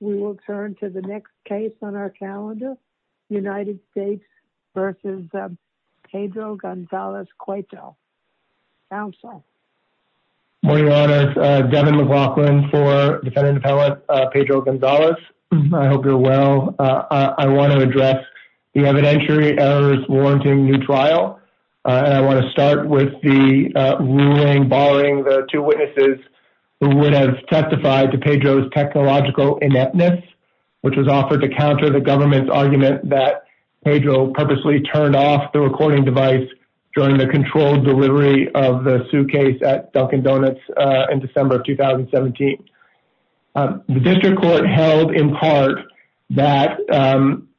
We will turn to the next case on our calendar. United States versus Pedro Gonzalez Coito Council. Morning Your Honors, Devin McLaughlin for Defendant Appellate Pedro Gonzalez. I hope you're well. I want to address the evidentiary errors warranting new trial. I want to start with the ruling barring the two witnesses who would have testified to Pedro's technological ineptness, which was offered to counter the government's argument that Pedro purposely turned off the recording device during the controlled delivery of the suitcase at Dunkin Donuts in December of 2017. The district court held in part that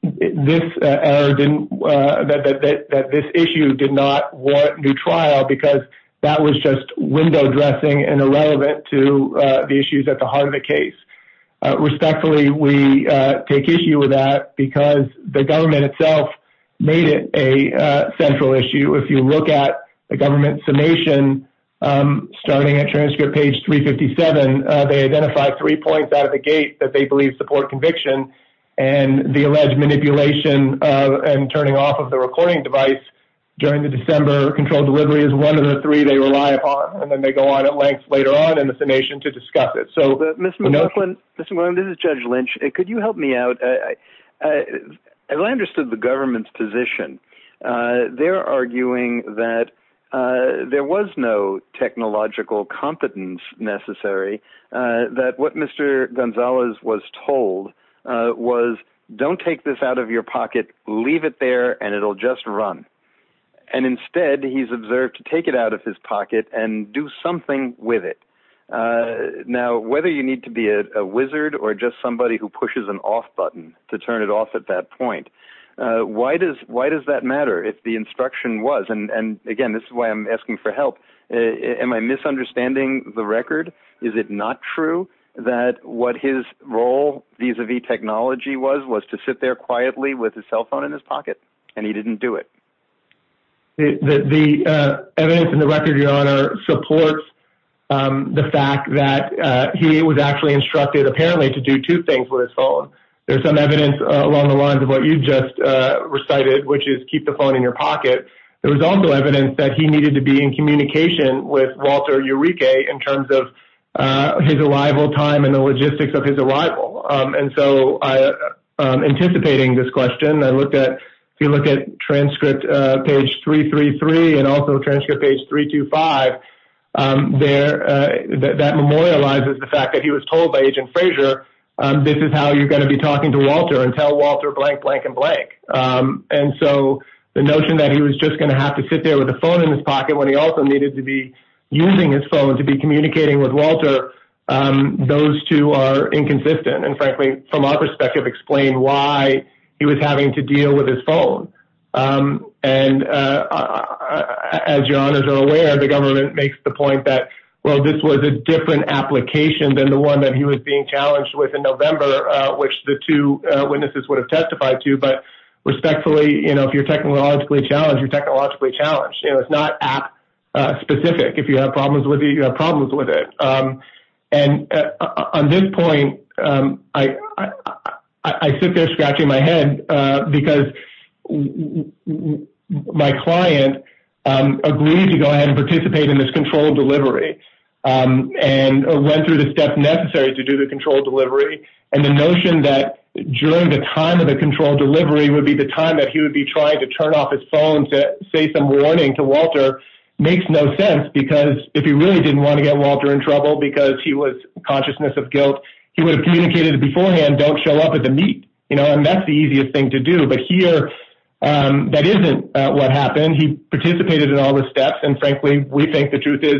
this error didn't, that this issue did not warrant new trial because that was just window dressing and irrelevant to the issues at the heart of the case. Respectfully, we take issue with that because the government itself made it a central issue. If you look at the government summation, starting at transcript page 357, they identified three points out of the gate that they believe support conviction and the controlled delivery is one of the three they rely upon, and then they go on at length later on in the summation to discuss it. Mr. McLaughlin, this is Judge Lynch. Could you help me out? As I understood the government's position, they're arguing that there was no technological competence necessary, that what Mr. Gonzalez was told was, don't take this out of your pocket, leave it there, and it'll just run. Instead, he's observed to take it out of his pocket and do something with it. Now, whether you need to be a wizard or just somebody who pushes an off button to turn it off at that point, why does that matter if the instruction was, and again, this is why I'm asking for help, am I misunderstanding the record? Is it not true that what his role vis-a-vis technology was, was to sit there quietly with his cell phone in his pocket and he didn't do it? The evidence in the record, Your Honor, supports the fact that he was actually instructed, apparently, to do two things with his phone. There's some evidence along the lines of what you just recited, which is keep the phone in your pocket. There was also evidence that he needed to be in communication with Walter Eureka in terms of his arrival time and the logistics of his arrival. Anticipating this question, if you look at transcript page 333 and also transcript page 325, that memorializes the fact that he was told by Agent Fraser, this is how you're going to be talking to Walter and tell Walter blank, blank, and blank. The notion that he was just going to have to sit there with a phone in his pocket when he also and frankly, from our perspective, explain why he was having to deal with his phone. As Your Honors are aware, the government makes the point that, well, this was a different application than the one that he was being challenged with in November, which the two witnesses would have testified to. Respectfully, if you're technologically challenged, you're technologically challenged. It's not app specific. If you have problems with it, you have problems with it. On this point, I sit there scratching my head because my client agreed to go ahead and participate in this control delivery and went through the steps necessary to do the control delivery. The notion that during the time of the control delivery would be the time that he would be trying to turn off his phone to say warning to Walter makes no sense. If he really didn't want to get Walter in trouble because he was consciousness of guilt, he would have communicated beforehand, don't show up at the meet. That's the easiest thing to do. Here, that isn't what happened. He participated in all the steps. Frankly, we think the truth is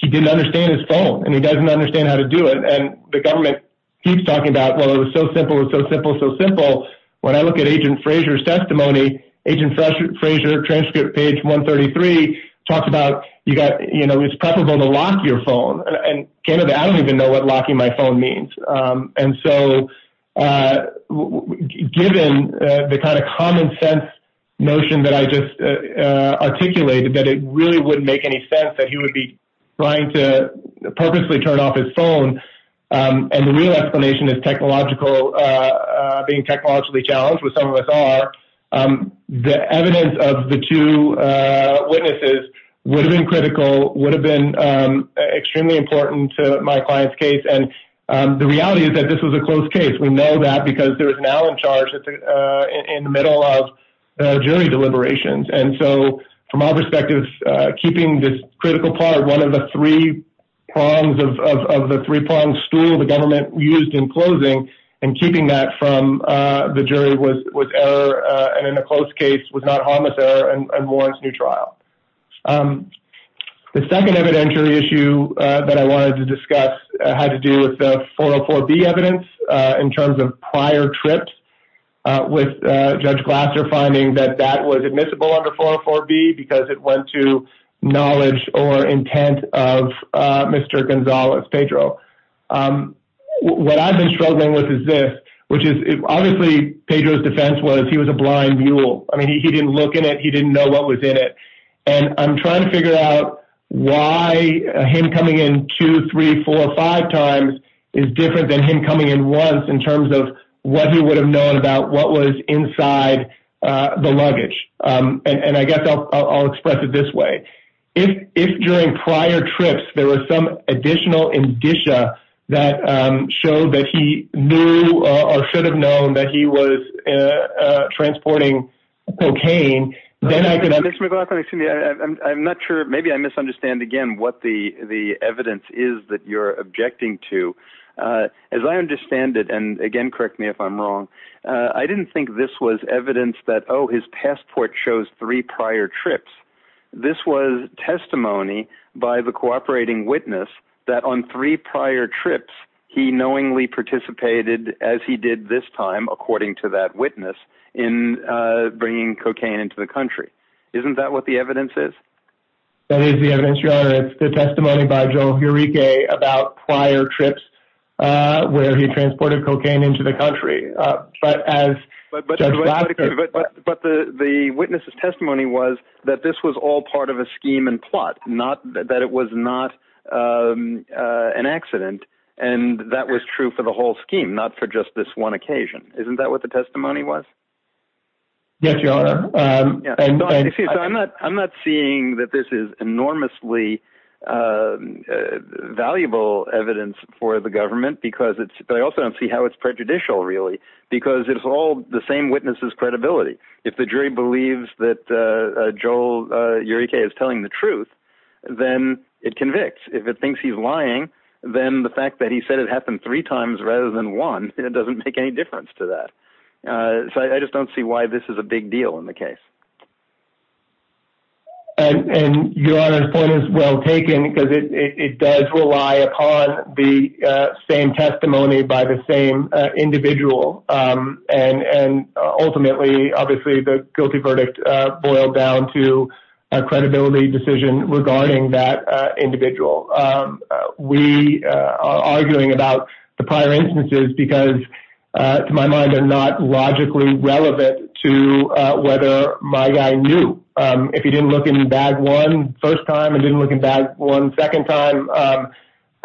he didn't understand his phone and he doesn't understand how to do it. The government keeps talking about, well, it was so simple, so simple, so simple. When I look at Agent Frazier's testimony, Agent Frazier, transcript page 133, talks about it's preferable to lock your phone. I don't even know what locking my phone means. Given the common sense notion that I just articulated, that it really wouldn't make any sense that he would be trying to purposely turn off his phone, and the real explanation is being technologically challenged, which some of us are, the evidence of the two witnesses would have been critical, would have been extremely important to my client's case. The reality is that this was a close case. We know that because there was an Allen charged in the middle of the jury deliberations. From our perspective, keeping this critical part, one of the three prongs of the three-pronged stool the government used in closing, and keeping that from the jury was error, and in a close case was not harmless error, and warrants new trial. The second evidentiary issue that I wanted to discuss had to do with the 404B evidence in terms of prior trips with Judge Glasser finding that that was admissible under 404B because it went to knowledge or intent of Mr. Gonzales, Pedro. What I've been struggling with is this, which is obviously Pedro's defense was he was a blind mule. He didn't look in it. He didn't know what was in it, and I'm trying to figure out why him coming in two, three, four, five times is different than him coming in once in terms of what he would have known about what was inside the luggage. I guess I'll express it this way. If during prior trips, there was some additional indicia that showed that he knew or should have known that he was transporting cocaine, then I could- Mr. McLaughlin, excuse me. I'm not sure. Maybe I misunderstand again what the evidence is that you're objecting to. As I understand it, and again, correct me if I'm wrong, I didn't think this was evidence that, oh, his passport shows three prior trips. This was testimony by the cooperating witness that on three prior trips, he knowingly participated as he did this time, according to that witness, in bringing cocaine into the country. Isn't that what the evidence is? That is the evidence, Your Honor. It's the testimony by Joel Urique about prior trips where he transported cocaine into the country, but as- But the witness's testimony was that this was all part of a scheme and plot, that it was not an accident, and that was true for the whole scheme, not for just this one occasion. Isn't that what the testimony was? Yes, Your Honor. I'm not seeing that this is enormously valuable evidence for the government, because I also don't see how it's prejudicial, really, because it's all the same witness's credibility. If the jury believes that Joel Urique is telling the truth, then it convicts. If it thinks he's lying, then the fact that he said it happened three times rather than one, it doesn't make any deal in the case. Your Honor's point is well taken, because it does rely upon the same testimony by the same individual, and ultimately, obviously, the guilty verdict boiled down to a credibility decision regarding that individual. We are arguing about the prior instances because, to my mind, they're not logically relevant to whether my guy knew. If he didn't look in bag one first time and didn't look in bag one second time,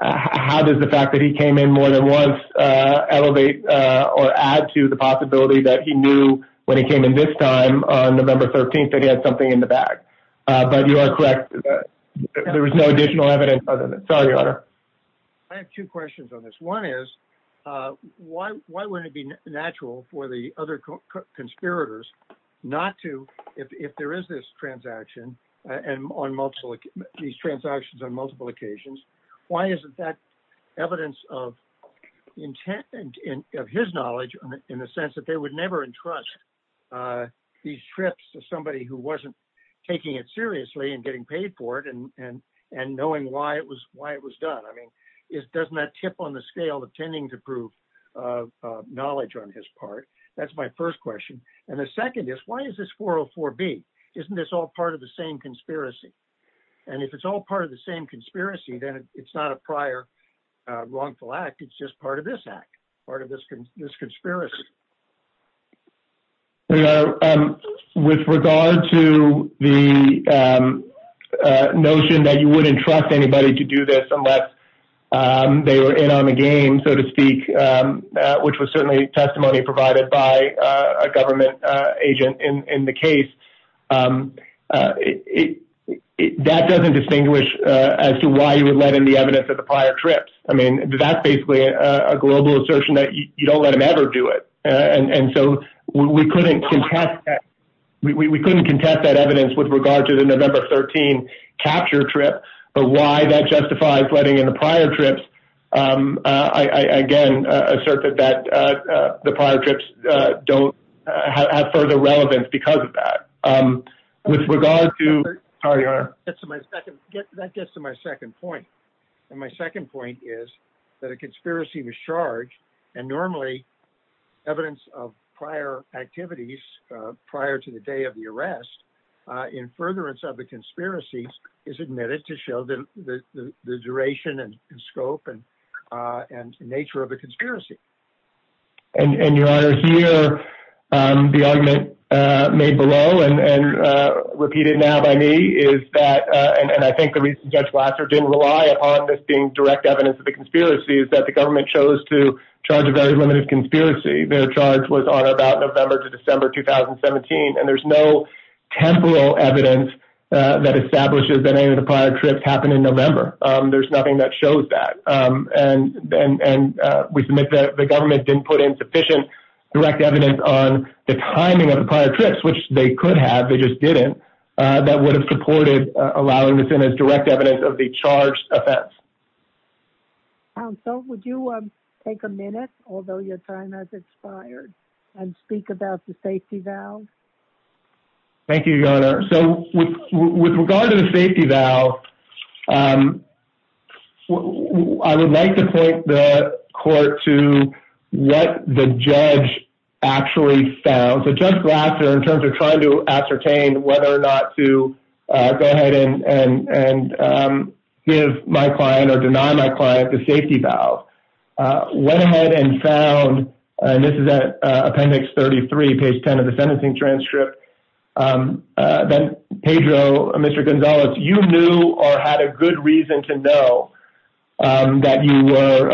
how does the fact that he came in more than once elevate or add to the possibility that he knew when he came in this time on November 13th that he had something in the bag? But you are correct. There was no additional evidence other than that. Your Honor, I have two questions on this. One is, why wouldn't it be natural for the other conspirators not to, if there is this transaction, these transactions on multiple occasions, why isn't that evidence of his knowledge in the sense that they would never entrust these trips to somebody who wasn't taking it seriously and getting paid for it and knowing why it was done? Doesn't that tip on the scale of tending to prove knowledge on his part? That's my first question. The second is, why is this 404B? Isn't this all part of the same conspiracy? If it's all part of the same conspiracy, then it's not a prior wrongful act. It's just part of this act, part of this conspiracy. Your Honor, with regard to the notion that you wouldn't trust anybody to do this unless they were in on the game, so to speak, which was certainly testimony provided by a government agent in the case, that doesn't distinguish as to why you would let in the evidence of the prior trips. I mean, that's basically a global assertion that you don't let them ever do it. We couldn't contest that evidence with regard to the November 13 capture trip, but why that justifies letting in the prior trips, I again assert that the prior trips don't have further relevance because of that. That gets to my second point. My second evidence of prior activities prior to the day of the arrest, in furtherance of the conspiracy, is admitted to show the duration and scope and nature of the conspiracy. Your Honor, here the argument made below and repeated now by me is that, and I think the reason Judge Lasser didn't rely upon this being direct evidence of the conspiracy, is that the government chose to charge a very limited conspiracy. Their charge was on about November to December 2017, and there's no temporal evidence that establishes that any of the prior trips happened in November. There's nothing that shows that, and we submit that the government didn't put in sufficient direct evidence on the timing of the prior trips, which they could have, they just didn't, that would have supported allowing this in as direct evidence of the offense. Counsel, would you take a minute, although your time has expired, and speak about the safety valve? Thank you, Your Honor. So, with regard to the safety valve, I would like to point the court to what the judge actually found. So, Judge Lasser, in terms of trying to ascertain whether or not to go ahead and give my client or deny my client the safety valve, went ahead and found, and this is at appendix 33, page 10 of the sentencing transcript, that Pedro, Mr. Gonzalez, you knew or had a good reason to know that you were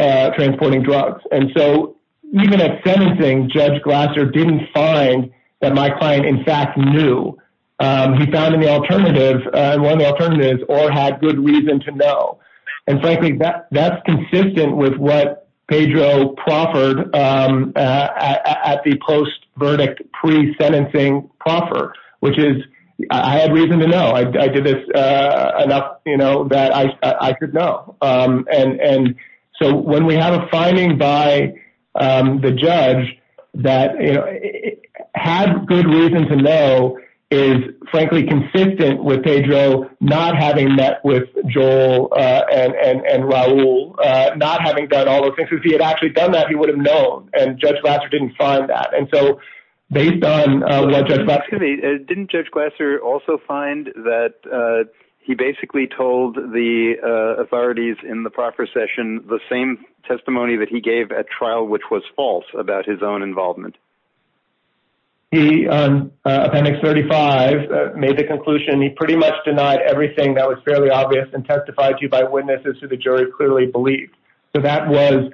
in fact knew, he found in the alternative, one of the alternatives, or had good reason to know. And frankly, that's consistent with what Pedro proffered at the post-verdict pre-sentencing proffer, which is, I had reason to know, I did this enough, you know, that I could know. And so, when we have a finding by the judge that, you know, had good reason to know is, frankly, consistent with Pedro not having met with Joel and Raul, not having done all those things. If he had actually done that, he would have known, and Judge Lasser didn't find that. And so, based on what Judge Lasser... Excuse me, didn't Judge Glasser also find that he basically told the authorities in the proffer session the same testimony that he gave at trial, which was false about his own involvement? He, on appendix 35, made the conclusion, he pretty much denied everything that was fairly obvious and testified to by witnesses who the jury clearly believed. So that was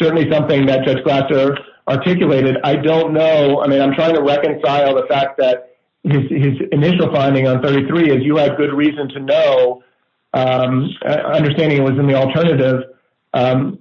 certainly something that Judge Glasser articulated. I don't know, I mean, I'm trying to reconcile the fact that his initial finding on 33 is you had good reason to know, understanding it was in the alternative,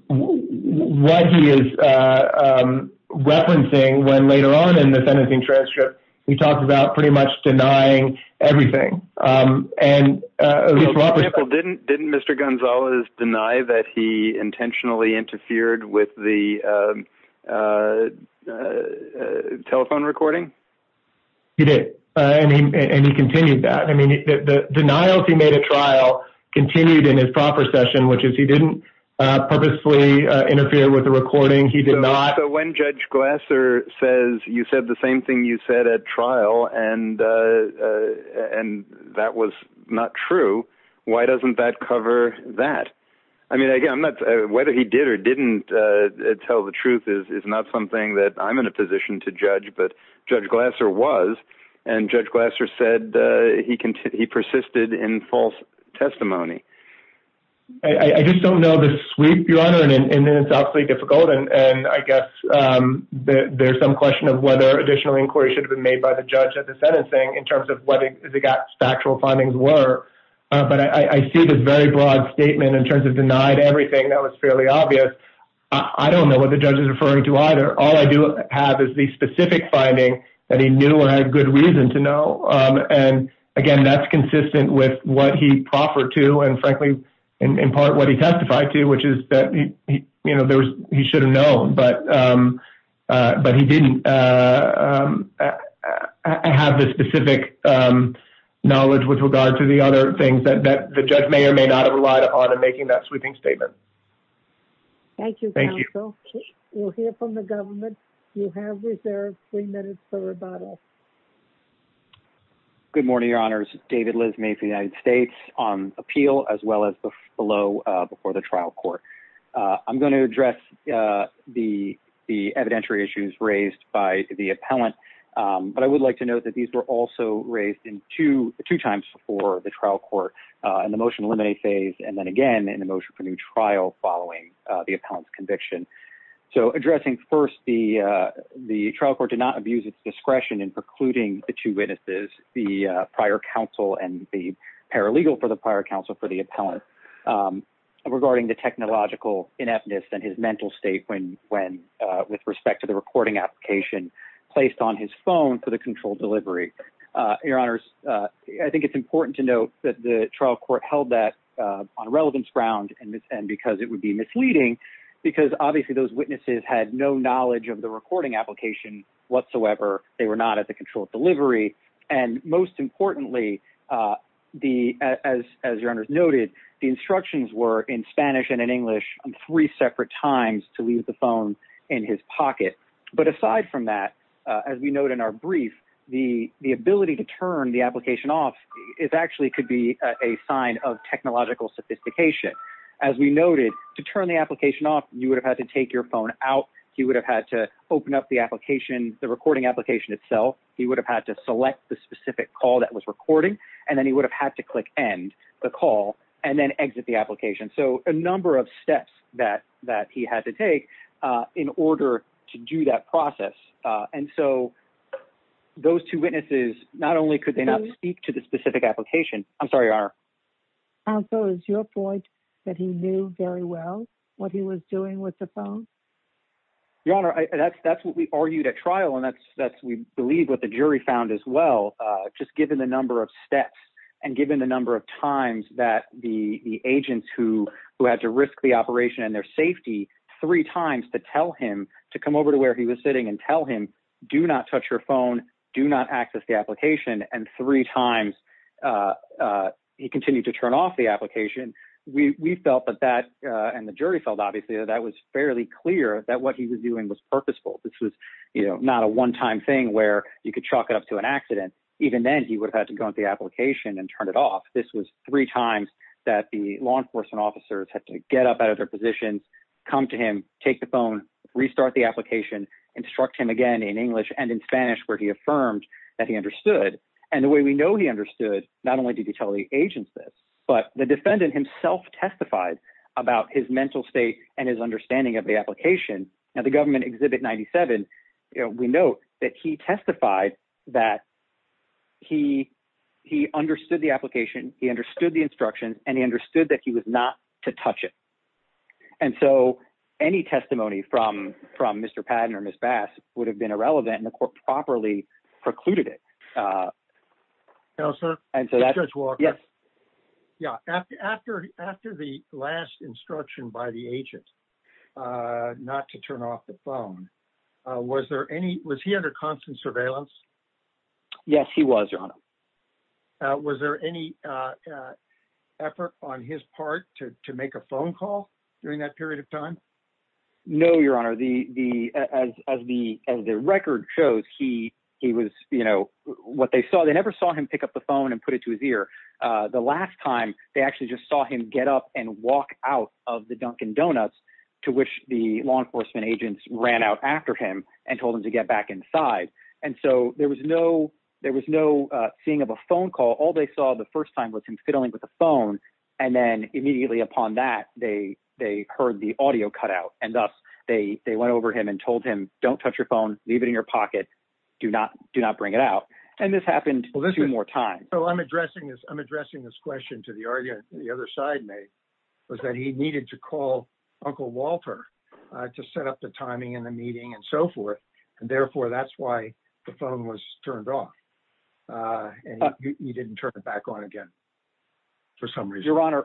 what he is referencing when later on in the sentencing transcript, he talks about pretty much denying everything. And... For example, didn't Mr. Gonzalez deny that he intentionally interfered with the telephone recording? He did, and he continued that. I mean, the denials he made at trial continued in his proffer session, which is he didn't purposely interfere with the recording, he did not... So when Judge Glasser says, you said the same thing you said at trial, and that was not true, why doesn't that cover that? I mean, again, I'm not... Whether he did or didn't tell the truth is not something that I'm in a position to judge, but Judge Glasser was, and Judge Glasser said he persisted in false testimony. I just don't know the sweep, Your Honor, and it's absolutely difficult. And I guess there's some question of whether additional inquiry should have been made by the judge at the sentencing in terms of what the factual findings were. But I see this very broad statement in terms of denied everything that was fairly obvious. I don't know what the other... All I do have is the specific finding that he knew and had good reason to know. And again, that's consistent with what he proffered to, and frankly, in part what he testified to, which is that he should have known, but he didn't have the specific knowledge with regard to the other things that the judge may or may not have relied upon in making that sweeping statement. Thank you, counsel. We'll hear from the government. You have reserved three minutes for rebuttal. Good morning, Your Honors. David Lizmay from the United States on appeal as well as below before the trial court. I'm going to address the evidentiary issues raised by the appellant, but I would like to note that these were also raised two times before the trial court in the trial following the appellant's conviction. So addressing first the trial court did not abuse its discretion in precluding the two witnesses, the prior counsel and the paralegal for the prior counsel for the appellant regarding the technological ineptness and his mental state with respect to the recording application placed on his phone for the control delivery. Your Honors, I think it's important to note that the trial court held that on relevance ground and because it would be misleading because obviously those witnesses had no knowledge of the recording application whatsoever. They were not at the control of delivery. And most importantly, as Your Honors noted, the instructions were in Spanish and in English three separate times to phone in his pocket. But aside from that, as we note in our brief, the ability to turn the application off is actually could be a sign of technological sophistication. As we noted, to turn the application off, you would have had to take your phone out. He would have had to open up the application, the recording application itself. He would have had to select the specific call that was recording, and then he would have had to click end the call and then exit the in order to do that process. And so those two witnesses, not only could they not speak to the specific application. I'm sorry, Your Honor. Counsel, is your point that he knew very well what he was doing with the phone? Your Honor, that's what we argued at trial. And that's, that's, we believe what the jury found as well. Just given the number of steps and given the times to tell him to come over to where he was sitting and tell him, do not touch your phone, do not access the application. And three times he continued to turn off the application. We felt that that, and the jury felt obviously that that was fairly clear that what he was doing was purposeful. This was not a one-time thing where you could chalk it up to an accident. Even then he would have had to go into the application and turn it off. This was three times that the law enforcement officers had to get up out of their positions, come to him, take the phone, restart the application, instruct him again in English and in Spanish, where he affirmed that he understood. And the way we know he understood, not only did he tell the agents this, but the defendant himself testified about his mental state and his understanding of the application. Now the government exhibit 97, we know that he testified that he, he understood the application. He understood the instruction and he understood that he was not to touch it. And so any testimony from, from Mr. Patton or Ms. Bass would have been irrelevant and the court properly precluded it. Uh, no, sir. And so that judge Walker. Yes. Yeah. After, after, after the last instruction by the agent, uh, not to turn off the phone, uh, was there any, was he under constant surveillance? Yes, he was your honor. Uh, was there any, uh, uh, effort on his part to, to make a phone call during that period of time? No, your honor. The, the, as, as the, as the record shows, he, he was, you know, what they saw, they never saw him pick up the phone and put it to his ear. Uh, the last time they actually just saw him get up and walk out of the Dunkin Donuts to which the law enforcement agents ran out after him and told him to get back inside. And so there was no, there was no, uh, seeing of a phone call. All they saw the first time was him fiddling with the phone. And then immediately upon that, they, they heard the audio cut out and thus they, they went over him and told him, don't touch your phone, leave it in your pocket. Do not do not bring it out. And this happened two more times. So I'm addressing this, I'm addressing this question to the argument that the other side made was that he needed to call uncle Walter, uh, to set up the timing and the meeting and so forth. And therefore that's why the phone was turned off. Uh, and he didn't turn it back on again for some reason. Your honor.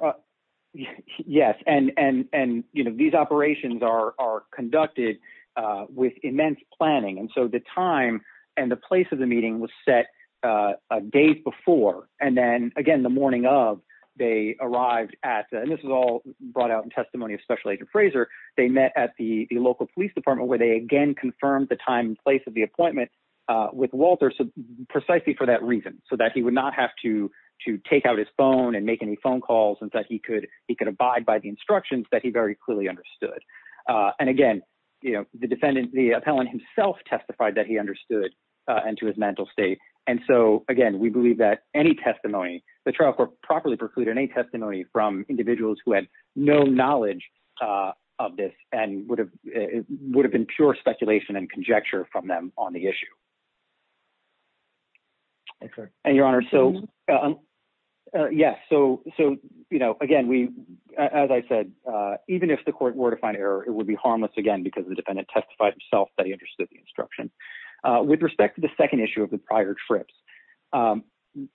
Yes. And, and, and, you know, these operations are, are conducted, uh, with immense planning. And so the time and the place of the meeting was set, uh, uh, days before. And then again, the morning of they arrived at, and this is all brought out in testimony of special agent Fraser, they met at the local police department where they again confirmed the time and place of the appointment, uh, with Walter. So precisely for that reason, so that he would not have to, to take out his phone and make any phone calls and that he could, he could abide by the instructions that he very clearly understood. Uh, and again, you know, the defendant, the appellant himself testified that he understood, uh, and to his mental state. And so, again, we believe that any testimony, the trial court properly precluded any testimony from individuals who had no knowledge, uh, of this and would have, uh, would have been pure speculation and conjecture from them on the issue. And your honor. So, uh, uh, yeah. So, so, you know, again, we, as I said, uh, even if the court were to find error, it would be harmless again, because the dependent testified himself that he understood the instruction, uh, with respect to the second issue of the prior trips. Um,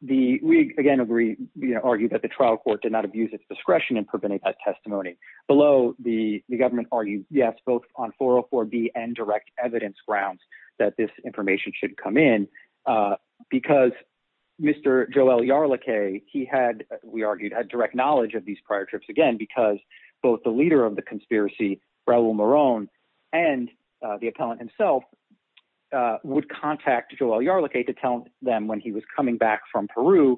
the, we again agree, you know, argue that the trial court did not abuse its discretion in preventing that testimony below the, the government argued yes, both on 404 B and direct evidence grounds that this information should come in. Uh, because Mr. Joel Yarlick, he had, we argued had direct knowledge of these prior trips again, because both the leader of the conspiracy Raul Moron and, uh, the appellant himself, uh, would contact Joel Yarlick to tell them when he was coming back from Peru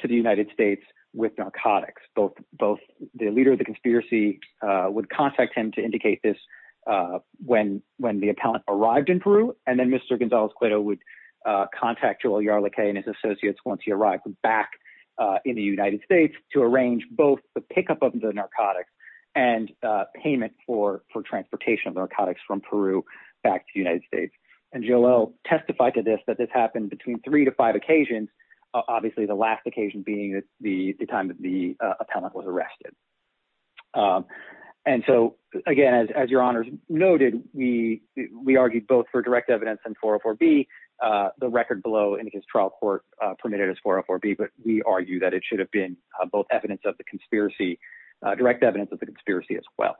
to the United States with narcotics, both, both the leader of the conspiracy, uh, would contact him to indicate this, uh, when, when the appellant arrived in Peru. And then Mr. Gonzalez-Cueto would, uh, contact Joel Yarlick and his associates. Once he arrived back, uh, in the United States to arrange both the pickup of the narcotics and, uh, payment for, for transportation of narcotics from Peru back to the United States. And Joel Yarlick testified to this, that this happened between three to five occasions. Obviously the last occasion being the time that the, uh, appellant was arrested. Um, and so again, as, as your honors noted, we, we argued both for direct evidence and 404 B, uh, the record below in his trial court, uh, permitted as 404 B, but we argue that it should have been both evidence of the conspiracy, uh, direct evidence of the conspiracy as well.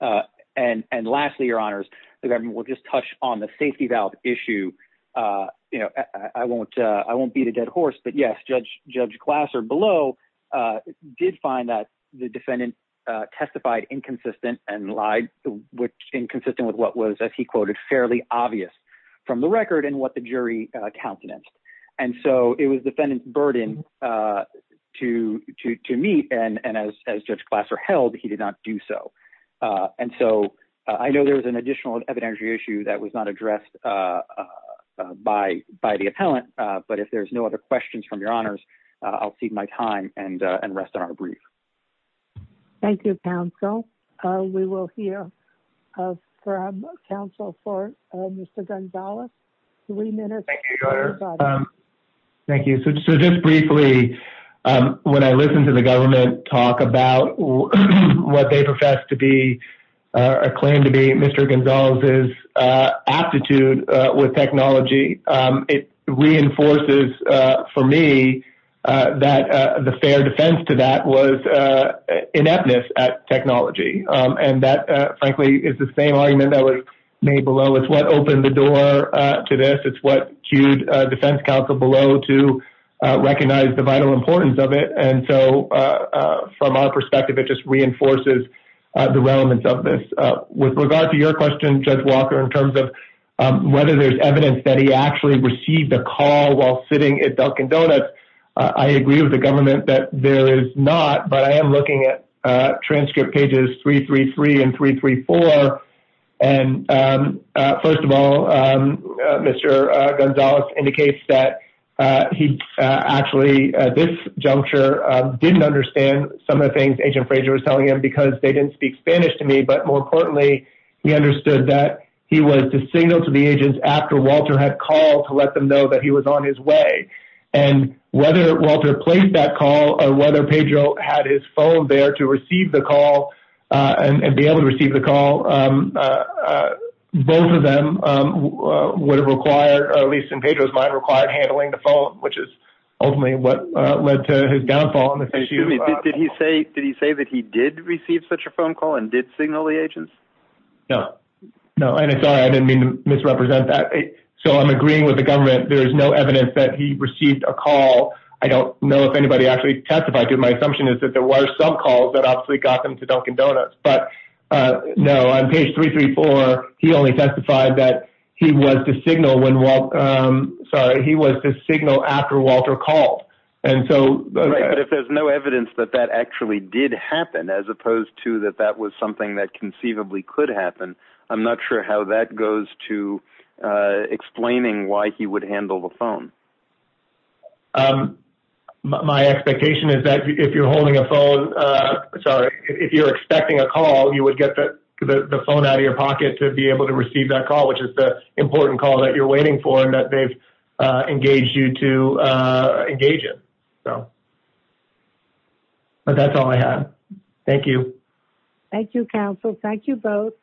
Uh, and, and lastly, your honors, the government will just touch on the safety valve issue. Uh, you know, I won't, uh, I won't beat a dead horse, but yes, Judge, Judge Glasser below, uh, did find that the defendant, uh, testified inconsistent and lied, which inconsistent with what was, as he quoted, fairly obvious from the record and what the jury, uh, counted as. And so it was the defendant's burden, uh, to, to, to meet and, and as, as Judge Glasser held, he did not do so. Uh, and so I know there was an additional evidentiary issue that was not addressed, uh, uh, by, by the appellant. Uh, but if there's no other questions from your honors, uh, I'll cede my time and, uh, and rest on a brief. Thank you, counsel. Uh, we will hear, uh, from counsel for, uh, Mr. Gonzalez three minutes. Thank you. So just briefly, um, when I listened to the government talk about what they profess to be, uh, a claim to be Mr. Gonzalez is, uh, aptitude, uh, with technology. Um, it reinforces, uh, for me, uh, that, uh, the fair defense to that was, uh, ineptness at technology. Um, and that, uh, frankly is the same argument that was made below. It's what opened the door, uh, to this. It's what queued, uh, defense counsel below to, uh, recognize the vital importance of it. And so, uh, uh, from our perspective, it just reinforces, uh, the relevance of this, uh, with regard to your question, judge Walker, in terms of, um, whether there's evidence that he actually received a call while sitting at Dunkin' Donuts. Uh, I agree with the government that there is not, but I am looking at, uh, transcript pages three, three, three, and three, three, four. And, um, uh, first of all, um, uh, Mr. Gonzalez indicates that, uh, he, uh, actually, uh, this juncture, uh, didn't understand some of the things agent Frazier was telling him because they didn't speak Spanish to me, but more importantly, he understood that he was the signal to the agents after Walter had called to let them know that he was on his way and whether Walter placed that call or whether Pedro had his phone there to receive the call, uh, and, and be able to receive the call. Um, uh, uh, both of them, um, uh, would have required, or at least in Pedro's mind, required handling the phone, which is ultimately what, uh, led to his downfall. Did he say, did he say that he did receive such a phone call and did signal the agents? No, no. And it's all right. I didn't mean to misrepresent that. So I'm agreeing with the government. There is no evidence that he received a call. I don't know if anybody actually testified to my assumption is that there were some calls that obviously got them to Dunkin' Donuts, but, uh, no, on page three, three, four, he only testified that he was the signal when, um, sorry, he was the signal after Walter called. And so, but if there's no evidence that that actually did happen, as opposed to that, that was something that conceivably could happen. I'm not sure how that goes to, uh, explaining why he would handle the phone. Um, my expectation is that if you're holding a phone, uh, sorry, if you're expecting a call, you would get the phone out of your pocket to be able to receive that call, which is the important call that you're waiting for and that they've, uh, engaged you to, uh, engage it. So, but that's all I have. Thank you. Thank you, council. Thank you both.